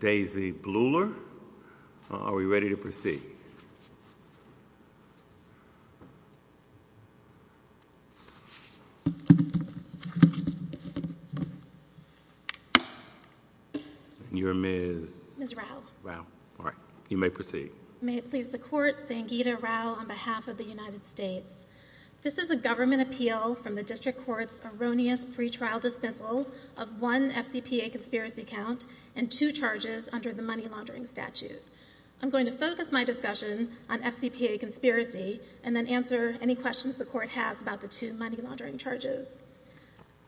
Daisy Bleuler. Are we ready to proceed? You're Ms. Rao. You may proceed. May it please the Court, Sangeeta Rao on behalf of the United States. This is a government appeal from the district court's erroneous pretrial dismissal of one FCPA conspiracy count and two charges under the money-laundering statute. I'm going to focus my discussion on FCPA conspiracy and then answer any questions the court has about the two money-laundering charges.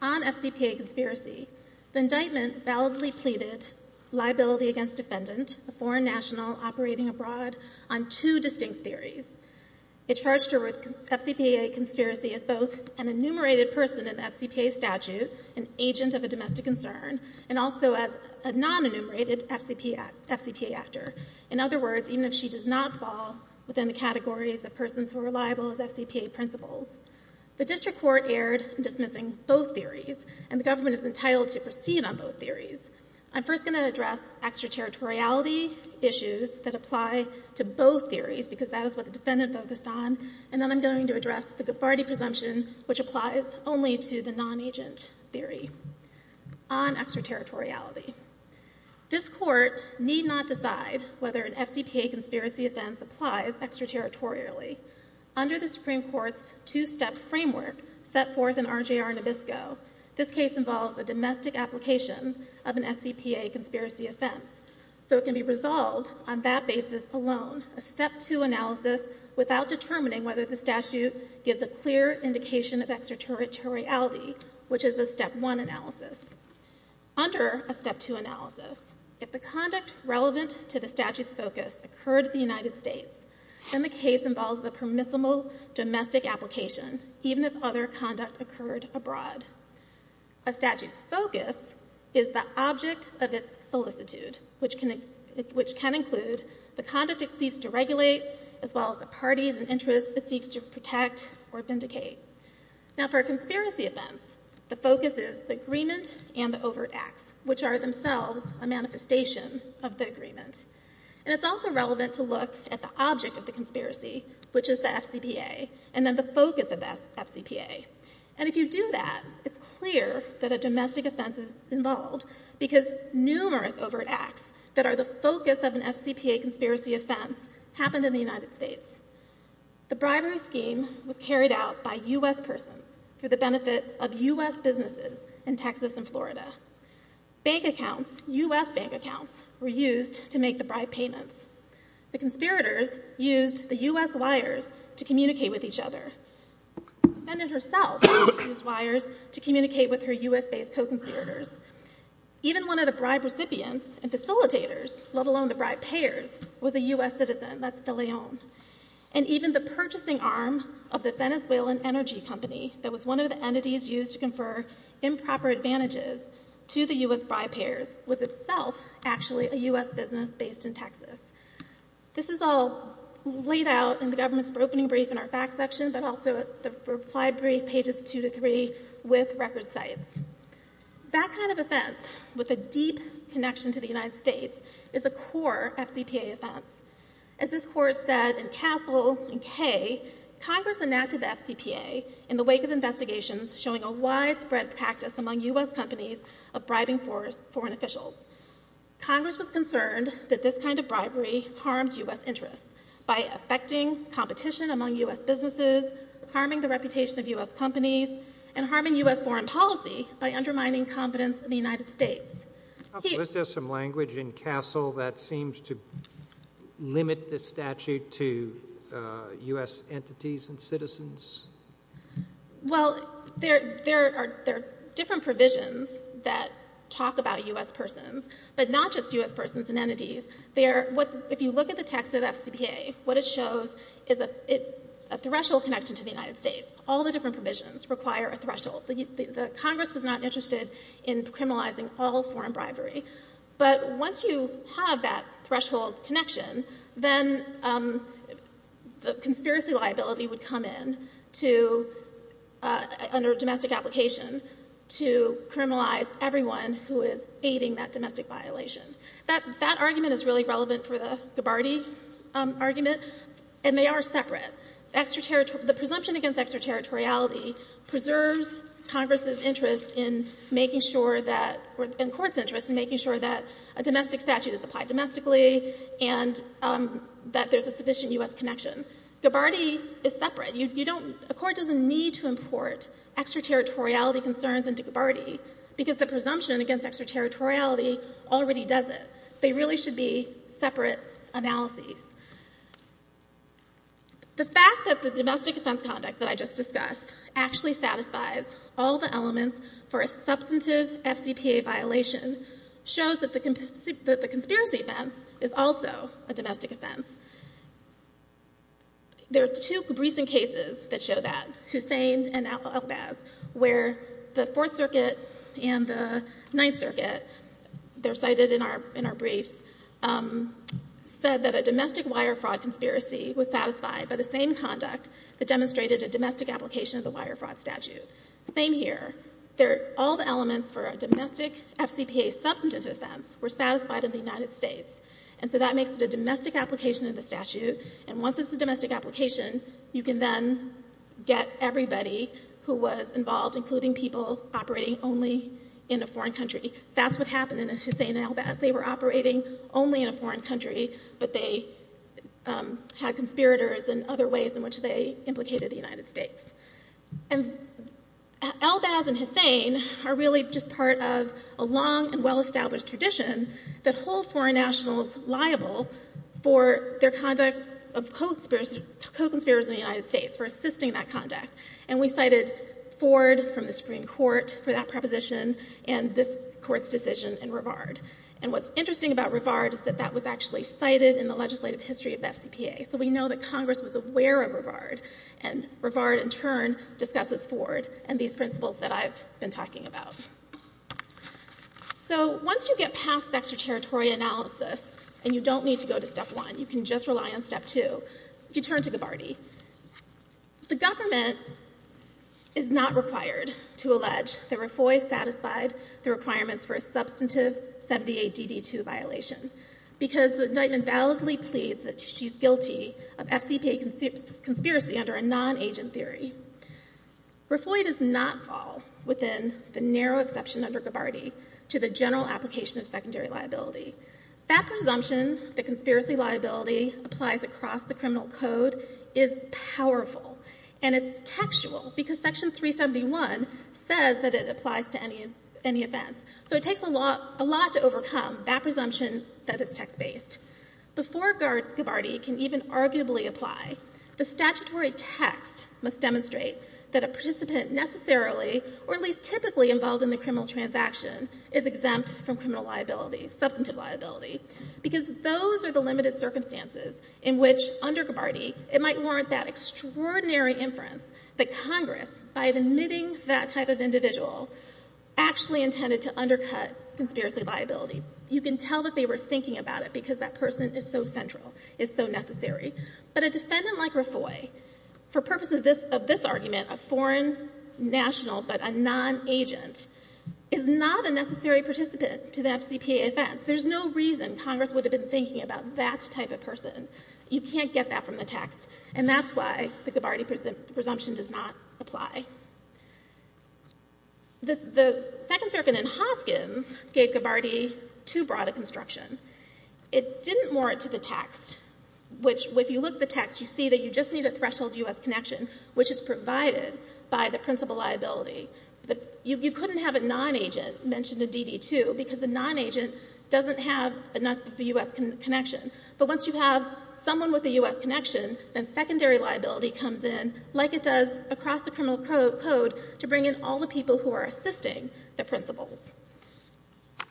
On FCPA conspiracy, the indictment validly pleaded liability against defendant, a foreign national operating abroad, on two distinct theories. It charged her with FCPA conspiracy as both an enumerated person in the FCPA statute, an agent of a domestic concern, and also as a non-enumerated FCPA actor. In other words, even if she does not fall within the categories of persons who are reliable as FCPA principals. The district court erred in dismissing both theories and the government is entitled to proceed on both theories. I'm first going to address extraterritoriality issues that apply to both theories, because that is what the defendant focused on, and then I'm going to address the Gabbardi presumption, which applies only to the non-agent theory on extraterritoriality. This court need not decide whether an FCPA conspiracy offense applies extraterritorially. Under the Supreme Court's two-step framework set forth in RJR Nabisco, this case involves a domestic application of an FCPA conspiracy offense, so it can be resolved on that basis alone, a step two analysis without determining whether the statute gives a clear indication of extraterritoriality, which is a step one analysis. Under a step two analysis, if the conduct relevant to the statute's focus occurred in the United States, then the case involves the permissible domestic application, even if other conduct occurred abroad. A statute's focus is the object of its solicitude, which can include the conduct it seeks to regulate, as well as the parties and interests it seeks to protect or vindicate. Now for a conspiracy offense, the focus is the agreement and the overt acts, which are themselves a manifestation of the agreement, and it's also relevant to look at the object of the conspiracy, which is the FCPA, and then the focus of that FCPA, and if you do that, it's clear that a domestic offense is involved, because numerous overt acts that are the focus of an FCPA conspiracy offense happened in the United States. The bribery scheme was carried out by U.S. persons for the benefit of U.S. businesses in Texas and Florida. Bank accounts, U.S. bank accounts, were used to make the bribe payments. The conspirators used the U.S. wires to communicate with each other. The defendant herself used wires to communicate with her U.S.-based co-conspirators. Even one of the bribe recipients and facilitators, let alone the bribe payers, was a U.S. citizen. That's de Leon. And even the purchasing arm of the Venezuelan energy company that was one of the entities used to confer improper advantages to the U.S. bribe payers was itself actually a U.S. business based in Texas. This is all laid out in the government's opening brief in our facts section, but also the reply brief pages two to three with record sites. That kind of offense with a deep connection to the United States is a core FCPA offense. As this court said in Castle and Kay, Congress enacted the FCPA in the wake of investigations showing a widespread practice among U.S. companies of bribing foreign officials. Congress was concerned that this kind of bribery harmed U.S. interests by affecting competition among U.S. businesses, harming the reputation of U.S. companies, and harming U.S. foreign policy by undermining confidence in the United States. Is there some language in Castle that seems to limit the statute to U.S. entities and citizens? Well, there are different provisions that talk about U.S. persons, but not just U.S. persons and entities. If you look at the text of the FCPA, what it shows is a threshold connection to the United States. All the different provisions require a threshold. Congress was not interested in criminalizing all foreign bribery, but once you have that threshold connection, then the conspiracy liability would come in under domestic application to criminalize everyone who is aiding that domestic violation. That argument is really relevant for the case, and they are separate. The presumption against extraterritoriality preserves Congress's interest in making sure that, or the Court's interest in making sure that a domestic statute is applied domestically and that there's a sufficient U.S. connection. Gabbardi is separate. You don't, a Court doesn't need to import extraterritoriality concerns into Gabbardi because the presumption against extraterritoriality already does it. They really should be separate analyses. The fact that the domestic offense conduct that I just discussed actually satisfies all the elements for a substantive FCPA violation shows that the conspiracy offense is also a domestic offense. There are two recent cases that show that, Hussain and Elbaz, where the Fourth Circuit and the Ninth Circuit case, said that a domestic wire fraud conspiracy was satisfied by the same conduct that demonstrated a domestic application of the wire fraud statute. Same here. All the elements for a domestic FCPA substantive offense were satisfied in the United States, and so that makes it a domestic application of the statute, and once it's a domestic application, you can then get everybody who was involved, including people operating only in a foreign country. That's what happened in Hussain and Elbaz. They were operating only in a foreign country, but they had conspirators and other ways in which they implicated the United States. Elbaz and Hussain are really just part of a long and well-established tradition that hold foreign nationals liable for their conduct of co-conspirators in the United States, for assisting that conduct, and we cited Ford from the Supreme Court for that proposition, and this Court's decision in Rivard, and what's interesting about Rivard is that that was actually cited in the legislative history of the FCPA, so we know that Congress was aware of Rivard, and Rivard in turn discusses Ford and these principles that I've been talking about. So once you get past the extraterritorial analysis, and you don't need to go to step one, you can just rely on step two, you turn to Gabbardi. The government is not required to allege that Raffoi satisfied the requirements for a substantive 78DD2 violation, because the indictment validly pleads that she's guilty of FCPA conspiracy under a non-agent theory. Raffoi does not fall within the narrow exception under Gabbardi to the general application of secondary liability. That presumption that conspiracy liability applies across the criminal code is powerful, and it's factual, because section 371 says that it applies to any offense, so it takes a lot to overcome that presumption that is text-based. Before Gabbardi can even arguably apply, the statutory text must demonstrate that a participant necessarily, or at least typically, involved in the criminal transaction is exempt from criminal liability, substantive liability, because those are the limited circumstances in which, under Gabbardi, it might warrant that extraordinary inference that Congress, by admitting that type of individual, actually intended to undercut conspiracy liability. You can tell that they were thinking about it, because that person is so central, is so necessary, but a defendant like Raffoi, for purposes of this argument, a foreign national but a non-agent, is not a necessary participant to the FCPA offense. There's no reason Congress would have been thinking about that type of person. You can't get that from the text, and that's why the Gabbardi presumption does not apply. The Second Circuit in Hoskins gave Gabbardi too broad a construction. It didn't warrant to the text, which, if you look at the text, you see that you just need a threshold U.S. connection, which is provided by the principal liability. You couldn't have a non-agent mentioned in DD2, because the non-agent doesn't have a U.S. connection, but once you have someone with a U.S. connection, then secondary liability comes in, like it does across the criminal code, to bring in all the people who are assisting the principals.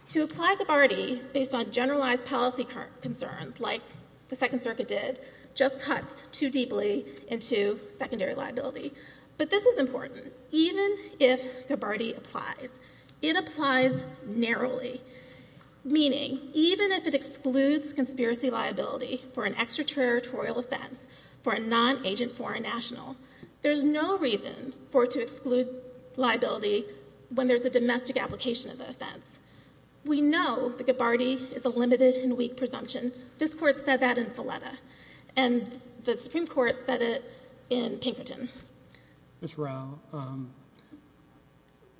To apply Gabbardi based on generalized policy concerns, like the Second Circuit did, just cuts too deeply into secondary liability. But this is important. Even if Gabbardi applies, it applies narrowly. Meaning, even if it is a domestic liability for an extraterritorial offense, for a non-agent foreign national, there's no reason for it to exclude liability when there's a domestic application of the offense. We know that Gabbardi is a limited and weak presumption. This Court said that in Filetta, and the Supreme Court said it in Pinkerton. Ms. Rao,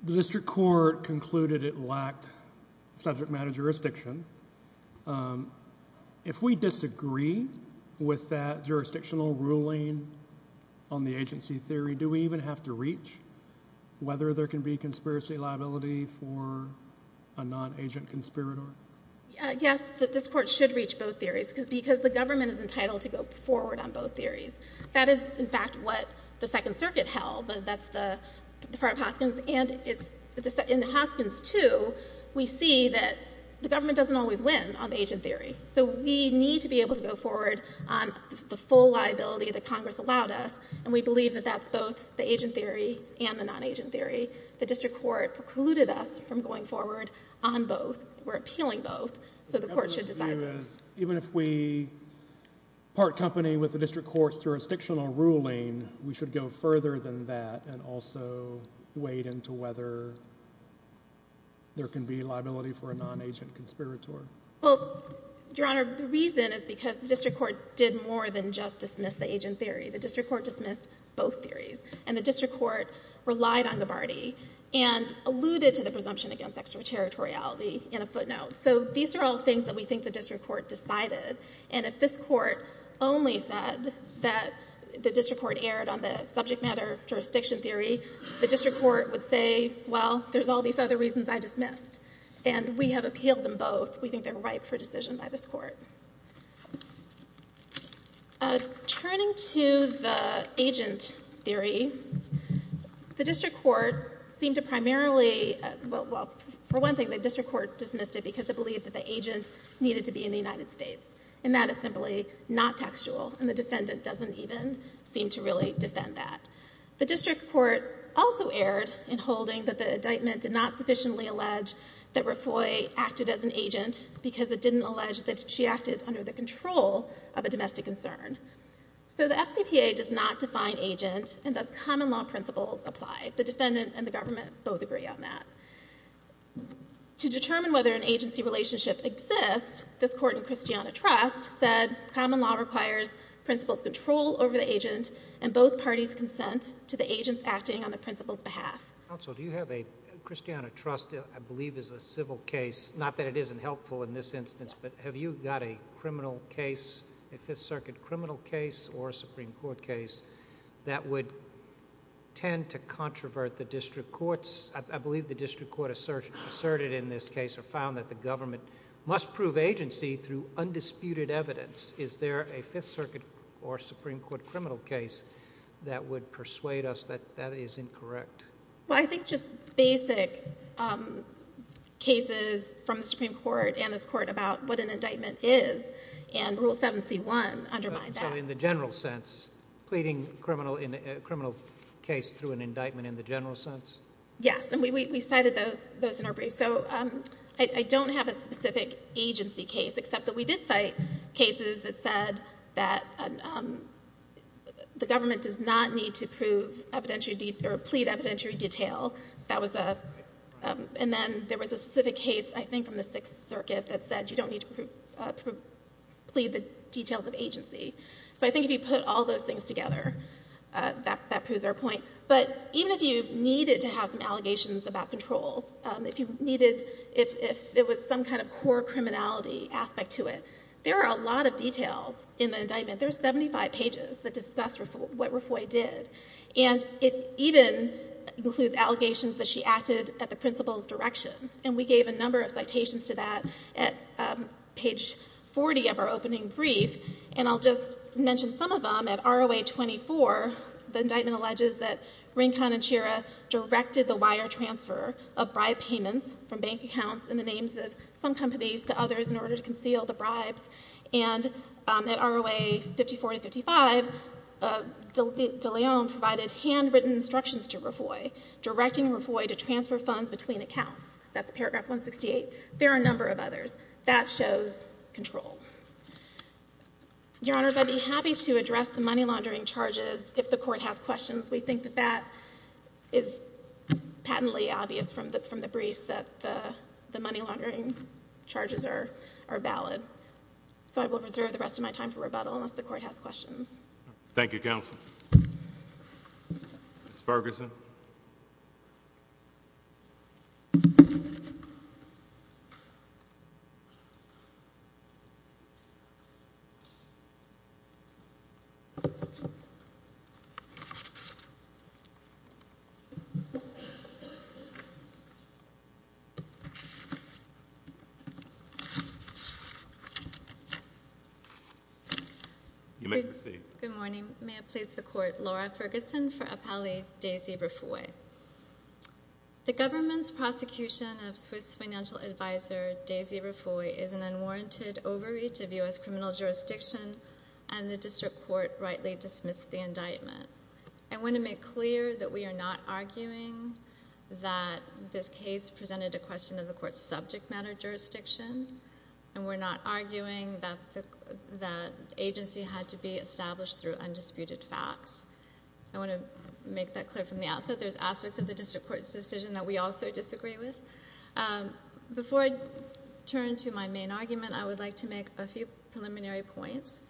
the District Court concluded it lacked subject matter jurisdiction. If we disagree with that jurisdictional ruling on the agency theory, do we even have to reach whether there can be conspiracy liability for a non-agent conspirator? Yes, this Court should reach both theories, because the government is entitled to go forward on both theories. That is, in fact, what the Second Circuit held, and that's the part of Hoskins, and in Hoskins 2, we see that the government doesn't always win on the agent theory. So we need to be able to go forward on the full liability that Congress allowed us, and we believe that that's both the agent theory and the non-agent theory. The District Court precluded us from going forward on both. We're appealing both, so the Court should decide that. Even if we part company with the District Court's jurisdictional ruling, we should go further than that and also wade into whether there can be conspiracy liability for a non-agent conspirator. Well, Your Honor, the reason is because the District Court did more than just dismiss the agent theory. The District Court dismissed both theories, and the District Court relied on Gabbardi and alluded to the presumption against extraterritoriality in a footnote. So these are all things that we think the District Court decided, and if this Court only said that the District Court erred on the subject matter jurisdiction theory, the District Court would say, well, there's all these other reasons I dismissed, and we have appealed them both. We think they're ripe for decision by this Court. Turning to the agent theory, the District Court seemed to primarily—well, for one thing, the District Court dismissed it because it believed that the agent needed to be in the United States, and that is simply not textual, and the defendant doesn't even seem to really defend that. The District Court also erred in holding that the indictment did not sufficiently allege that Raffoi acted as an agent because it didn't allege that she acted under the control of a domestic concern. So the FCPA does not define agent, and thus common law principles apply. The defendant and the government both agree on that. To determine whether an agency relationship exists, this Court in Christiana Trust said common law requires principles control over the agents acting on the principal's behalf. Justice Sotomayor. Counsel, do you have a... Christiana Trust, I believe, is a civil case, not that it isn't helpful in this instance, but have you got a criminal case, a Fifth Circuit criminal case or a Supreme Court case, that would tend to controvert the District Courts? I believe the District Court asserted in this case or found that the government must prove agency through undisputed evidence. Is there a Fifth Circuit or Supreme Court criminal case that would persuade us that that is incorrect? Well, I think just basic cases from the Supreme Court and this Court about what an indictment is and Rule 7C1 undermine that. So in the general sense, pleading a criminal case through an indictment in the general sense? Yes, and we cited those in our briefs. So I don't have a specific agency case, except that we did cite cases that said that the government does not need to prove evidentiary or plead evidentiary detail. That was a... and then there was a specific case, I think, from the Sixth Circuit that said you don't need to plead the details of agency. So I think if you put all those things together, that proves our point. But even if you needed to have some allegations about controls, if you needed... if it was some kind of core criminality aspect to it, there are a lot of details in the indictment. There are 75 pages that discuss what Refoy did. And it even includes allegations that she acted at the principal's direction. And we gave a number of citations to that at page 40 of our opening brief. And I'll just mention some of them. At ROA 24, the indictment alleges that Rincon and some companies to others in order to conceal the bribes. And at ROA 54-55, de Leon provided handwritten instructions to Refoy, directing Refoy to transfer funds between accounts. That's paragraph 168. There are a number of others. That shows control. Your Honors, I'd be happy to address the money laundering charges if the Court has questions. We think that that is patently obvious from the brief that the money laundering charges are valid. So I will reserve the rest of my time for rebuttal unless the Court has questions. Good morning. May I please the Court, Laura Ferguson, for appellee Daisy Refoy. The government's prosecution of Swiss financial advisor Daisy Refoy is an unwarranted overreach of U.S. criminal jurisdiction, and the District Court rightly dismissed the indictment. I want to make clear that we are not arguing that this case presented a question of the Court's subject matter jurisdiction, and we're not arguing that agency had to be established through undisputed facts. So I want to make that clear from the outset. There's aspects of the District Court's decision that we also disagree with. Before I turn to my main argument, I would like to make a few preliminary points.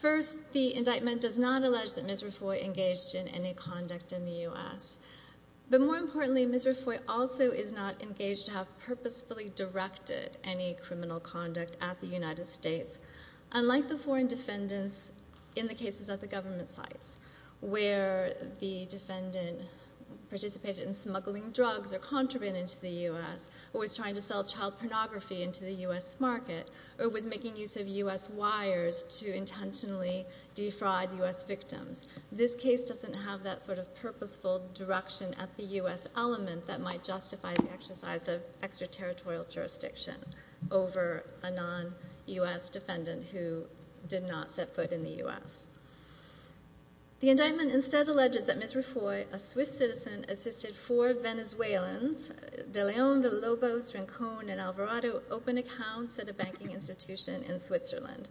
First, the indictment does not allege that Ms. Refoy engaged in any conduct in the U.S. But more importantly, Ms. Refoy also is not engaged to have purposefully directed any criminal conduct at the United States. Unlike the foreign defendants in the cases at the government sites, where the defendant participated in smuggling drugs or contraband into the U.S., or was trying to sell child pornography into the U.S. market, or was making use of U.S. wires to intentionally defraud U.S. victims, this case doesn't have that sort of purposeful direction at the U.S. element that might justify the exercise of extraterritorial jurisdiction over a non-U.S. defendant who did not set foot in the U.S. The indictment instead alleges that Ms. Refoy, a Swiss citizen, assisted four Venezuelans, De Leon, Villalobos, Rincon, and Alvarado, open accounts at a banking institution in Switzerland.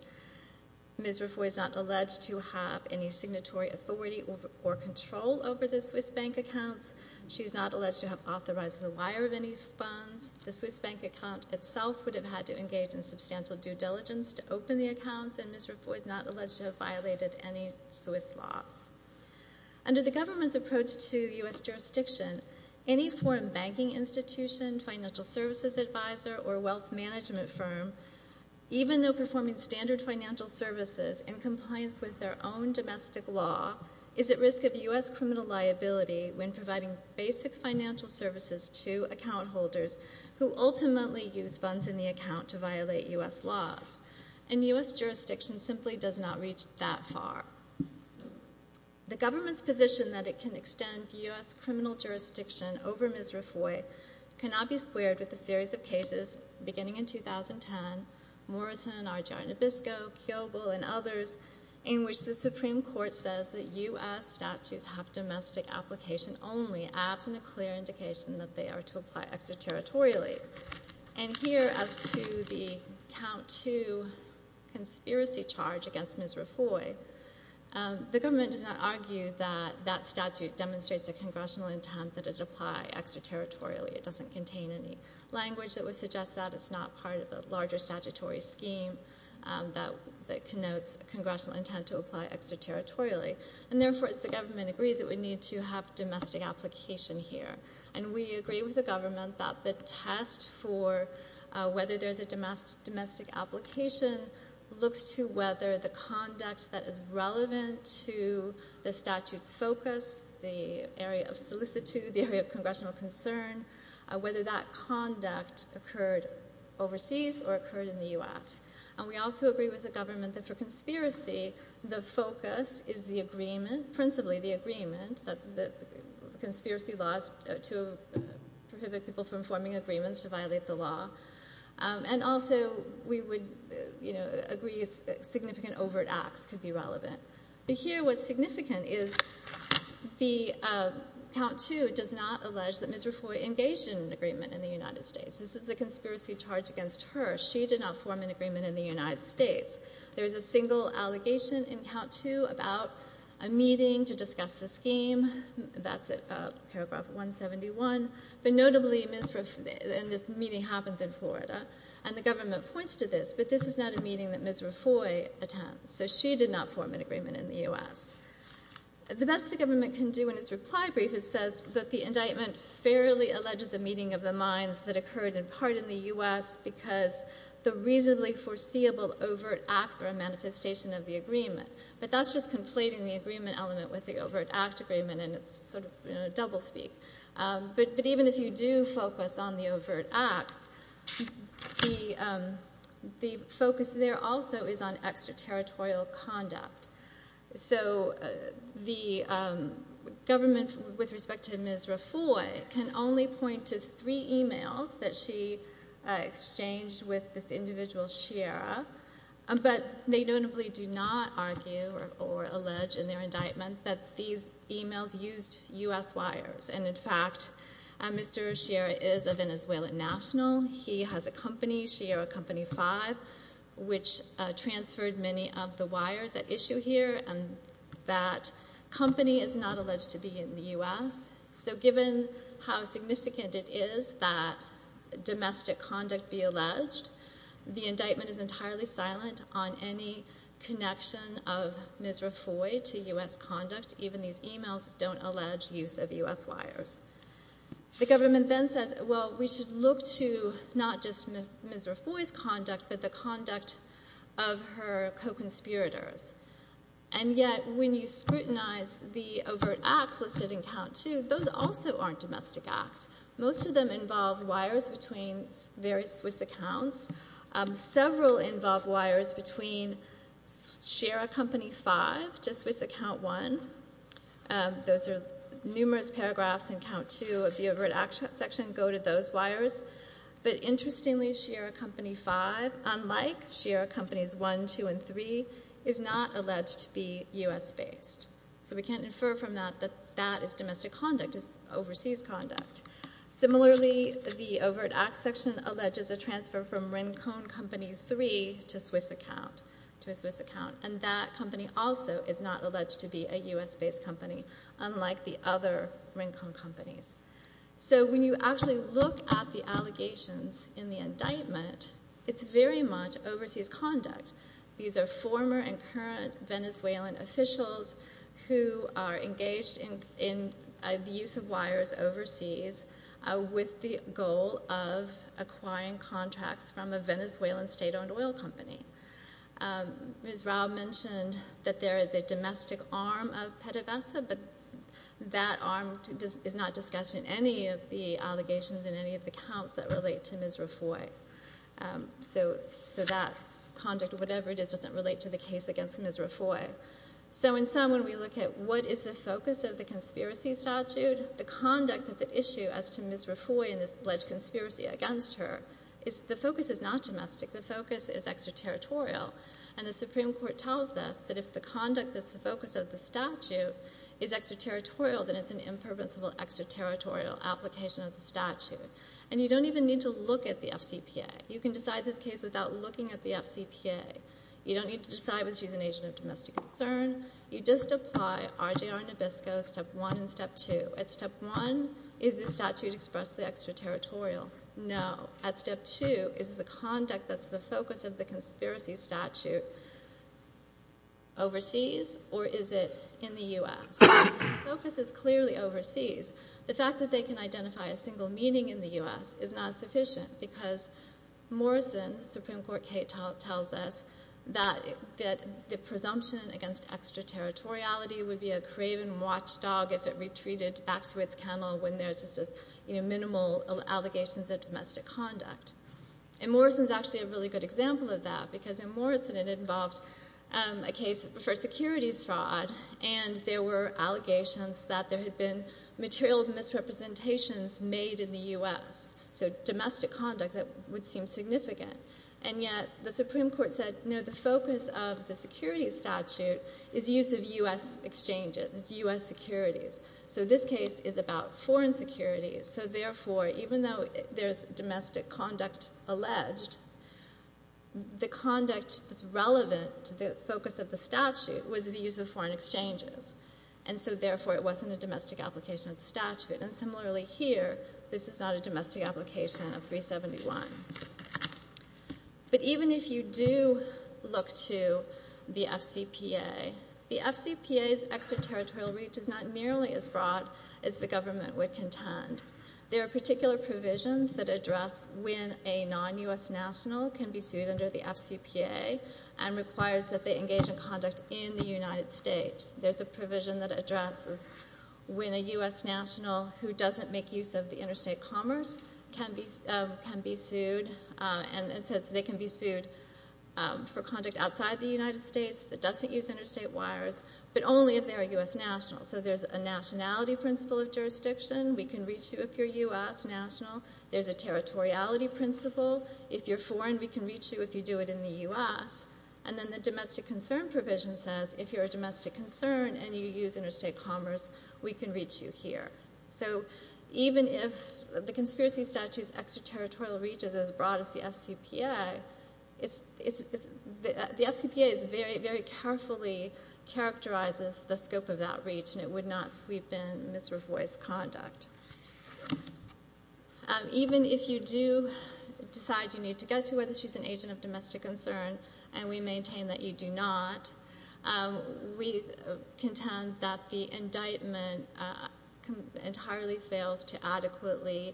Ms. Refoy is not alleged to have any signatory authority or control over the Swiss bank accounts. She's not alleged to have authorized the wire of any funds. The Swiss bank account itself would have had to engage in substantial due diligence to open the accounts, and Ms. Refoy is not alleged to have violated any Swiss laws. Under the government's approach to U.S. jurisdiction, any foreign banking institution, financial services advisor, or wealth management firm, even though they own domestic law, is at risk of U.S. criminal liability when providing basic financial services to account holders who ultimately use funds in the account to violate U.S. laws, and U.S. jurisdiction simply does not reach that far. The government's position that it can extend U.S. criminal jurisdiction over Ms. Refoy cannot be squared with a series of cases beginning in 2010, Morrison, Argyro Nabisco, Kyoble, and others, in which the Supreme Court says that U.S. statutes have domestic application only, absent a clear indication that they are to apply extraterritorially. And here, as to the count to conspiracy charge against Ms. Refoy, the government does not argue that that statute demonstrates a congressional intent that it apply extraterritorially. It doesn't contain any language that would suggest that it's not part of a larger statutory scheme that connotes congressional intent to apply extraterritorially. And therefore, as the government agrees, it would need to have domestic application here. And we agree with the government that the test for whether there's a domestic application looks to whether the conduct that is relevant to the statute's focus, the area of solicitude, the area of congressional concern, whether that conduct occurred overseas or occurred in the U.S. And we also agree with the government that for conspiracy, the focus is the agreement, principally the agreement, that the conspiracy laws to prohibit people from forming agreements to violate the law. And also, we would, you know, agree significant overt acts could be relevant. Here, what's significant is the count to does not allege that Ms. Refoy engaged in an agreement in the United States. This is a conspiracy charge against her. She did not form an agreement in the United States. There is a single allegation in count to about a meeting to discuss the scheme. That's paragraph 171. But notably, Ms. Refoy, and this meeting happens in Florida, and the government points to this, but this is not a meeting that Ms. Refoy attends. So she did not form an agreement in the U.S. The best the government can do in its reply brief is says that the indictment fairly alleges a meeting of the minds that occurred in part in the U.S. because the reasonably foreseeable overt acts are a manifestation of the agreement. But that's just conflating the agreement element with the overt act agreement, and it's sort of, you know, doublespeak. But even if you do focus on the overt acts, the focus there also is on extraterritorial conduct. So the government, with respect to Ms. Refoy, can only point to three emails that she exchanged with this individual, Shira, but they notably do not argue or allege in their indictment that these emails used U.S. wires. And in fact, Mr. Shira is a Venezuelan national. He has a company, Shira Company 5, which transferred many of the wires at issue here, and that company is not alleged to be in the U.S. So given how significant it is that domestic conduct be alleged, the indictment is entirely silent on any connection of Ms. Refoy to U.S. conduct. Even these emails don't allege use of U.S. wires. The government then says, well, we should look to not just Ms. Refoy's conduct, but the conduct of her co-conspirators. And yet, when you scrutinize the overt acts listed in count two, those also aren't domestic acts. Most of them involve wires between various Swiss accounts. Several involve wires between Shira Company 5 to Swiss account one. Those are numerous paragraphs in count two of the overt acts section go to those wires. But interestingly, Shira Company 5, unlike Shira Companies 1, 2, and 3, is not alleged to be U.S. based. So we can't infer from that that that is domestic conduct. It's overseas conduct. Similarly, the overt acts section alleges a transfer from Rincon Company 3 to a Swiss account, and that company also is not alleged to be a U.S. based company, unlike the other Rincon companies. So when you actually look at the allegations in the indictment, it's very much overseas conduct. These are former and current Venezuelan officials who are engaged in the use of wires overseas with the goal of acquiring contracts from a Venezuelan state-owned oil company. Ms. Rao mentioned that there is a domestic arm of PDVSA, but that arm is not discussed in any of the allegations in any of the counts that relate to Ms. Rafoi. So that conduct, whatever it is, doesn't relate to the case against Ms. Rafoi. So in sum, when we look at what is the focus of the conspiracy statute, the conduct of the issue as to Ms. Rafoi and this alleged domestic, the focus is extraterritorial. And the Supreme Court tells us that if the conduct that's the focus of the statute is extraterritorial, then it's an impermissible extraterritorial application of the statute. And you don't even need to look at the FCPA. You can decide this case without looking at the FCPA. You don't need to decide whether she's an agent of domestic concern. You just apply RJR Nabisco, Step 1 and Step 2. At Step 1, is the statute expressly extraterritorial? No. At Step 2, is the conduct that's the focus of the conspiracy statute overseas or is it in the U.S.? The focus is clearly overseas. The fact that they can identify a single meeting in the U.S. is not sufficient because Morrison, Supreme Court case, tells us that the presumption against extraterritoriality would be a craven watchdog if it retreated back to its minimal allegations of domestic conduct. And Morrison's actually a really good example of that because in Morrison it involved a case for securities fraud and there were allegations that there had been material misrepresentations made in the U.S. So domestic conduct that would seem significant. And yet the Supreme Court said, no, the focus of the security statute is use of U.S. exchanges. It's U.S. security. So therefore, even though there's domestic conduct alleged, the conduct that's relevant to the focus of the statute was the use of foreign exchanges. And so therefore it wasn't a domestic application of the statute. And similarly here, this is not a domestic application of 371. But even if you do look to the FCPA, the FCPA's extraterritorial reach is not nearly as intense. There are particular provisions that address when a non-U.S. national can be sued under the FCPA and requires that they engage in conduct in the United States. There's a provision that addresses when a U.S. national who doesn't make use of the interstate commerce can be sued and it says they can be sued for conduct outside the United States that doesn't use interstate wires, but only if you're a U.S. national. So there's a nationality principle of jurisdiction. We can reach you if you're U.S. national. There's a territoriality principle. If you're foreign, we can reach you if you do it in the U.S. And then the domestic concern provision says if you're a domestic concern and you use interstate commerce, we can reach you here. So even if the conspiracy statute's extraterritorial reach is as extensive as the scope of that reach and it would not sweep in misrevoiced conduct. Even if you do decide you need to get to whether she's an agent of domestic concern and we maintain that you do not, we contend that the indictment entirely fails to adequately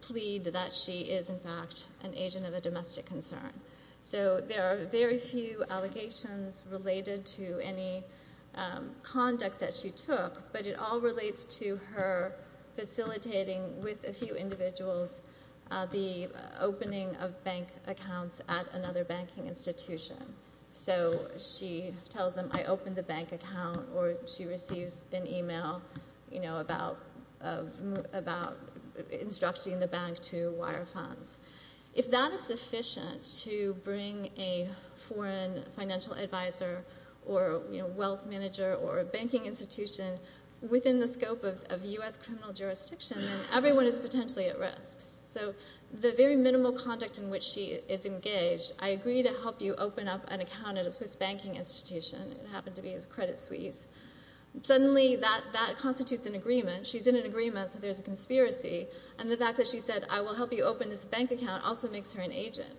plead that she is, in fact, an agent of a domestic concern. So there are very few allegations related to any conduct that she took, but it all relates to her facilitating with a few individuals the opening of bank accounts at another banking institution. So she tells them, I opened the bank account or she receives an email, you know, about instructing the bank to wire funds. If that is sufficient to bring a foreign financial advisor or, you know, wealth manager or a banking institution within the scope of U.S. criminal jurisdiction, then everyone is potentially at risk. So the very minimal conduct in which she is engaged, I agree to help you open up an account at a Swiss banking institution. It happened to be a credit suisse. Suddenly that constitutes an agreement. She's in an agreement, so there's a conspiracy. And the fact that she said, I will help you open this bank account also makes her an agent.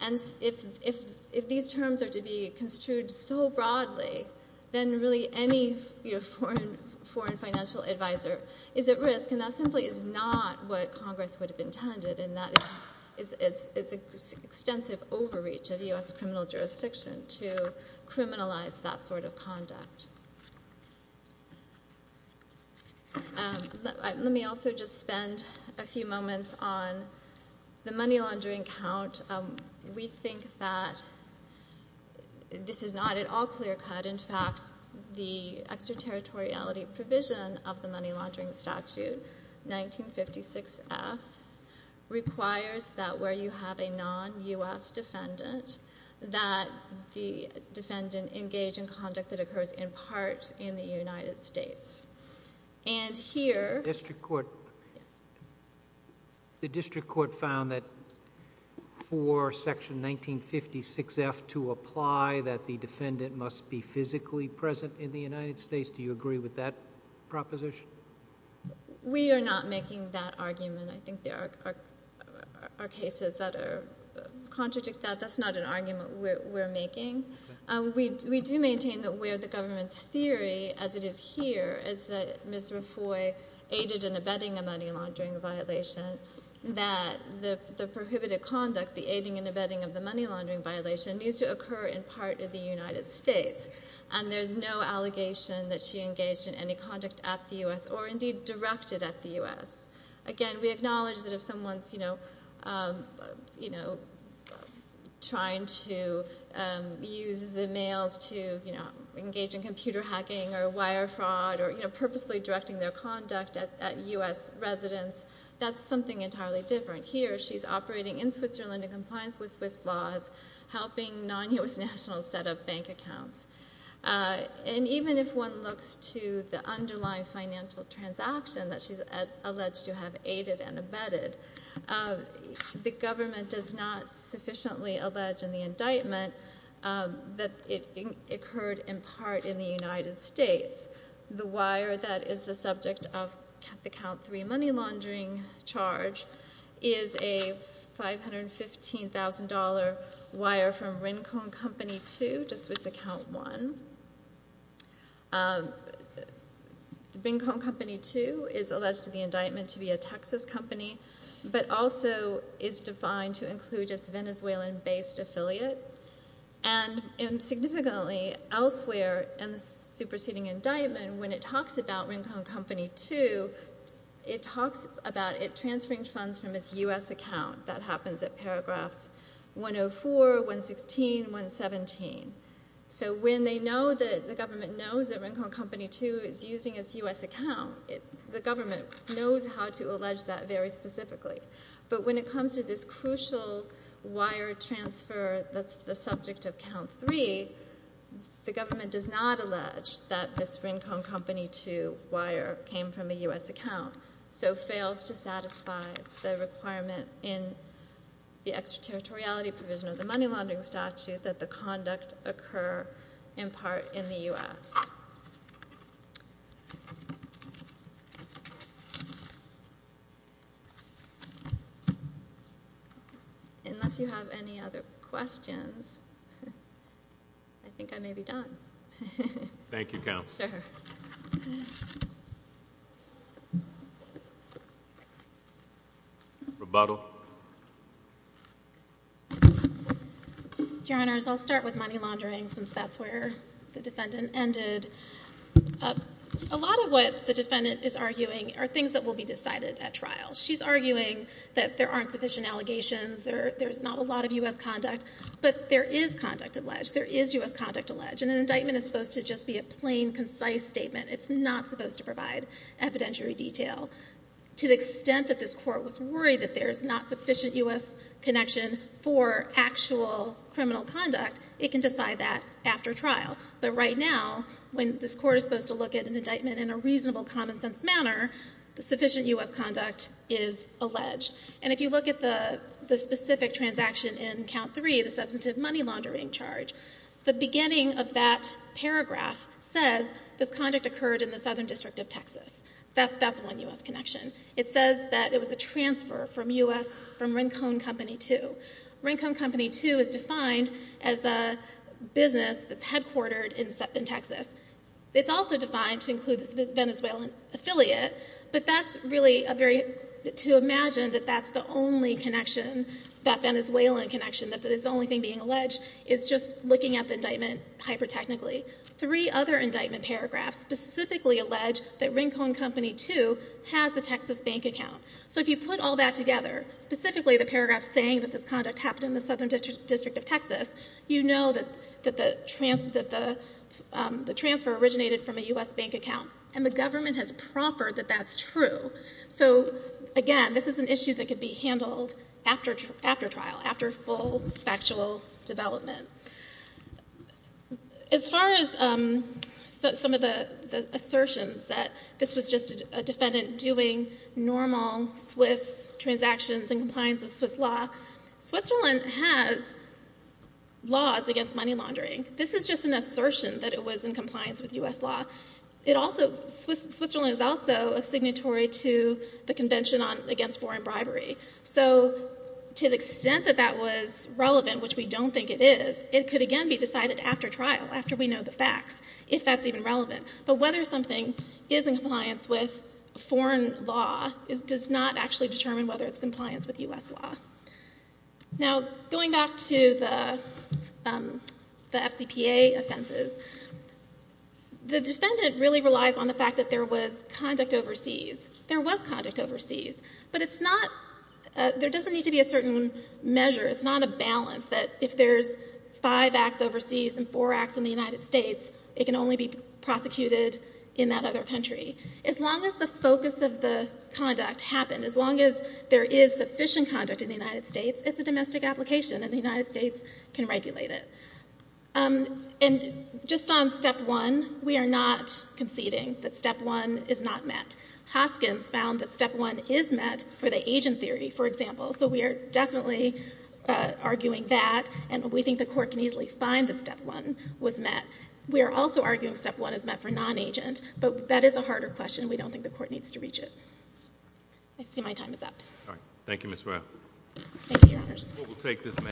And if these terms are to be construed so broadly, then really any foreign financial advisor is at risk, and that simply is not what Congress would have intended, and that is extensive overreach of U.S. criminal jurisdiction to criminalize that sort of conduct. Let me also just spend a few moments on the money laundering count. We think that this is not at all clear-cut. In fact, the extraterritoriality provision of the money laundering statute, 1956F, requires that where you have a non-U.S. defendant, that the defendant engage in conduct that is not a non-U.S. defendant. The district court found that for Section 1956F to apply that the defendant must be physically present in the United States, do you agree with that proposition? We are not making that argument. I think there are cases that contradict that. That's not an argument we're making. We do maintain that where the government's theory, as it is here, is that Ms. Rafoi aided in abetting a money laundering violation, that the prohibited conduct, the aiding and abetting of the money laundering violation, needs to occur in part of the United States, and there's no allegation that she engaged in any conduct at the U.S. or, indeed, directed at the U.S. Again, we acknowledge that if someone's trying to use the mails to engage in computer hacking or wire fraud or, you know, purposely directing their conduct at U.S. residents, that's something entirely different. Here, she's operating in Switzerland in compliance with Swiss laws, helping non-U.S. nationals set up bank accounts. And even if one looks to the underlying financial transaction that she's alleged to have aided and abetted, the government does not sufficiently allege in the indictment that it occurred in part in the United States. The wire that is the subject of the count three money laundering charge is a $515,000 wire from Rincon Company 2 to Swiss Account 1. Rincon Company 2 is alleged to the indictment to be a Texas company, but also is defined to include its Venezuelan-based affiliate. And significantly elsewhere in the superseding indictment, when it talks about Rincon Company 2, it talks about it transferring funds from its U.S. account. That happens at paragraphs 104, 116, 117. So when they know that the government knows that Rincon Company 2 is using its U.S. account, the government knows how to allege that very specifically. But when it comes to this crucial wire transfer that's the subject of count three, the government does not allege that this Rincon Company 2 wire came from a U.S. account, so fails to satisfy the requirement in the extraterritoriality provision of the money laundering statute that the conduct occur in part in the U.S. Unless you have any other questions, I think I may be done. Thank you, Counsel. Sure. Rebuttal. Your Honors, I'll start with money laundering, since that's where the defendant ended. A lot of what the defendant is arguing are things that will be decided at trial. She's arguing that there aren't sufficient allegations, there's not a lot of U.S. conduct, but there is conduct alleged. There is U.S. conduct alleged, and an indictment is supposed to just be a plain, concise statement. It's not supposed to provide evidentiary detail. To the extent that this Court was worried that there's not sufficient U.S. connection for actual criminal conduct, it can decide that after trial. But right now, when this is done in a reasonable, common-sense manner, sufficient U.S. conduct is alleged. And if you look at the specific transaction in Count 3, the substantive money laundering charge, the beginning of that paragraph says this conduct occurred in the Southern District of Texas. That's one U.S. connection. It says that it was a transfer from U.S. from Rincon Company 2. Rincon Company 2 is defined as a business that's headquartered in Texas. It's also defined to include this Venezuelan affiliate, but that's really a very, to imagine that that's the only connection, that Venezuelan connection, that it's the only thing being alleged, is just looking at the indictment hyper-technically. Three other indictment paragraphs specifically allege that Rincon Company 2 has a Texas bank account. So if you put all that together, specifically the paragraph saying that this conduct happened in the Southern District of Texas, you know that the transfer originated from a U.S. bank account. And the government has proffered that that's true. So again, this is an issue that could be handled after trial, after full factual development. As far as some of the assertions that this was just a defendant doing normal Swiss transactions in compliance with Swiss law, Switzerland has laws against money laundering. This is just an assertion that it was in compliance with U.S. law. It also, Switzerland is also a signatory to the Convention Against Foreign Bribery. So to the extent that that was relevant, which we don't think it is, it could again be decided after trial, after we know the facts, if that's even relevant. But whether something is in compliance with foreign law does not actually determine whether it's in compliance with U.S. law. Now going back to the FCPA offenses, the defendant really relies on the fact that there was conduct overseas. There was conduct overseas. But it's not, there doesn't need to be a certain measure. It's not a balance that if there's five acts overseas and four acts in the United States, it's a domestic application and the United States can regulate it. And just on Step 1, we are not conceding that Step 1 is not met. Hoskins found that Step 1 is met for the agent theory, for example. So we are definitely arguing that. And we think the court can easily find that Step 1 was met. We are also arguing Step 1 is met for non-agent. But that is a harder question. We don't think the court needs to reach it. I see my time is up.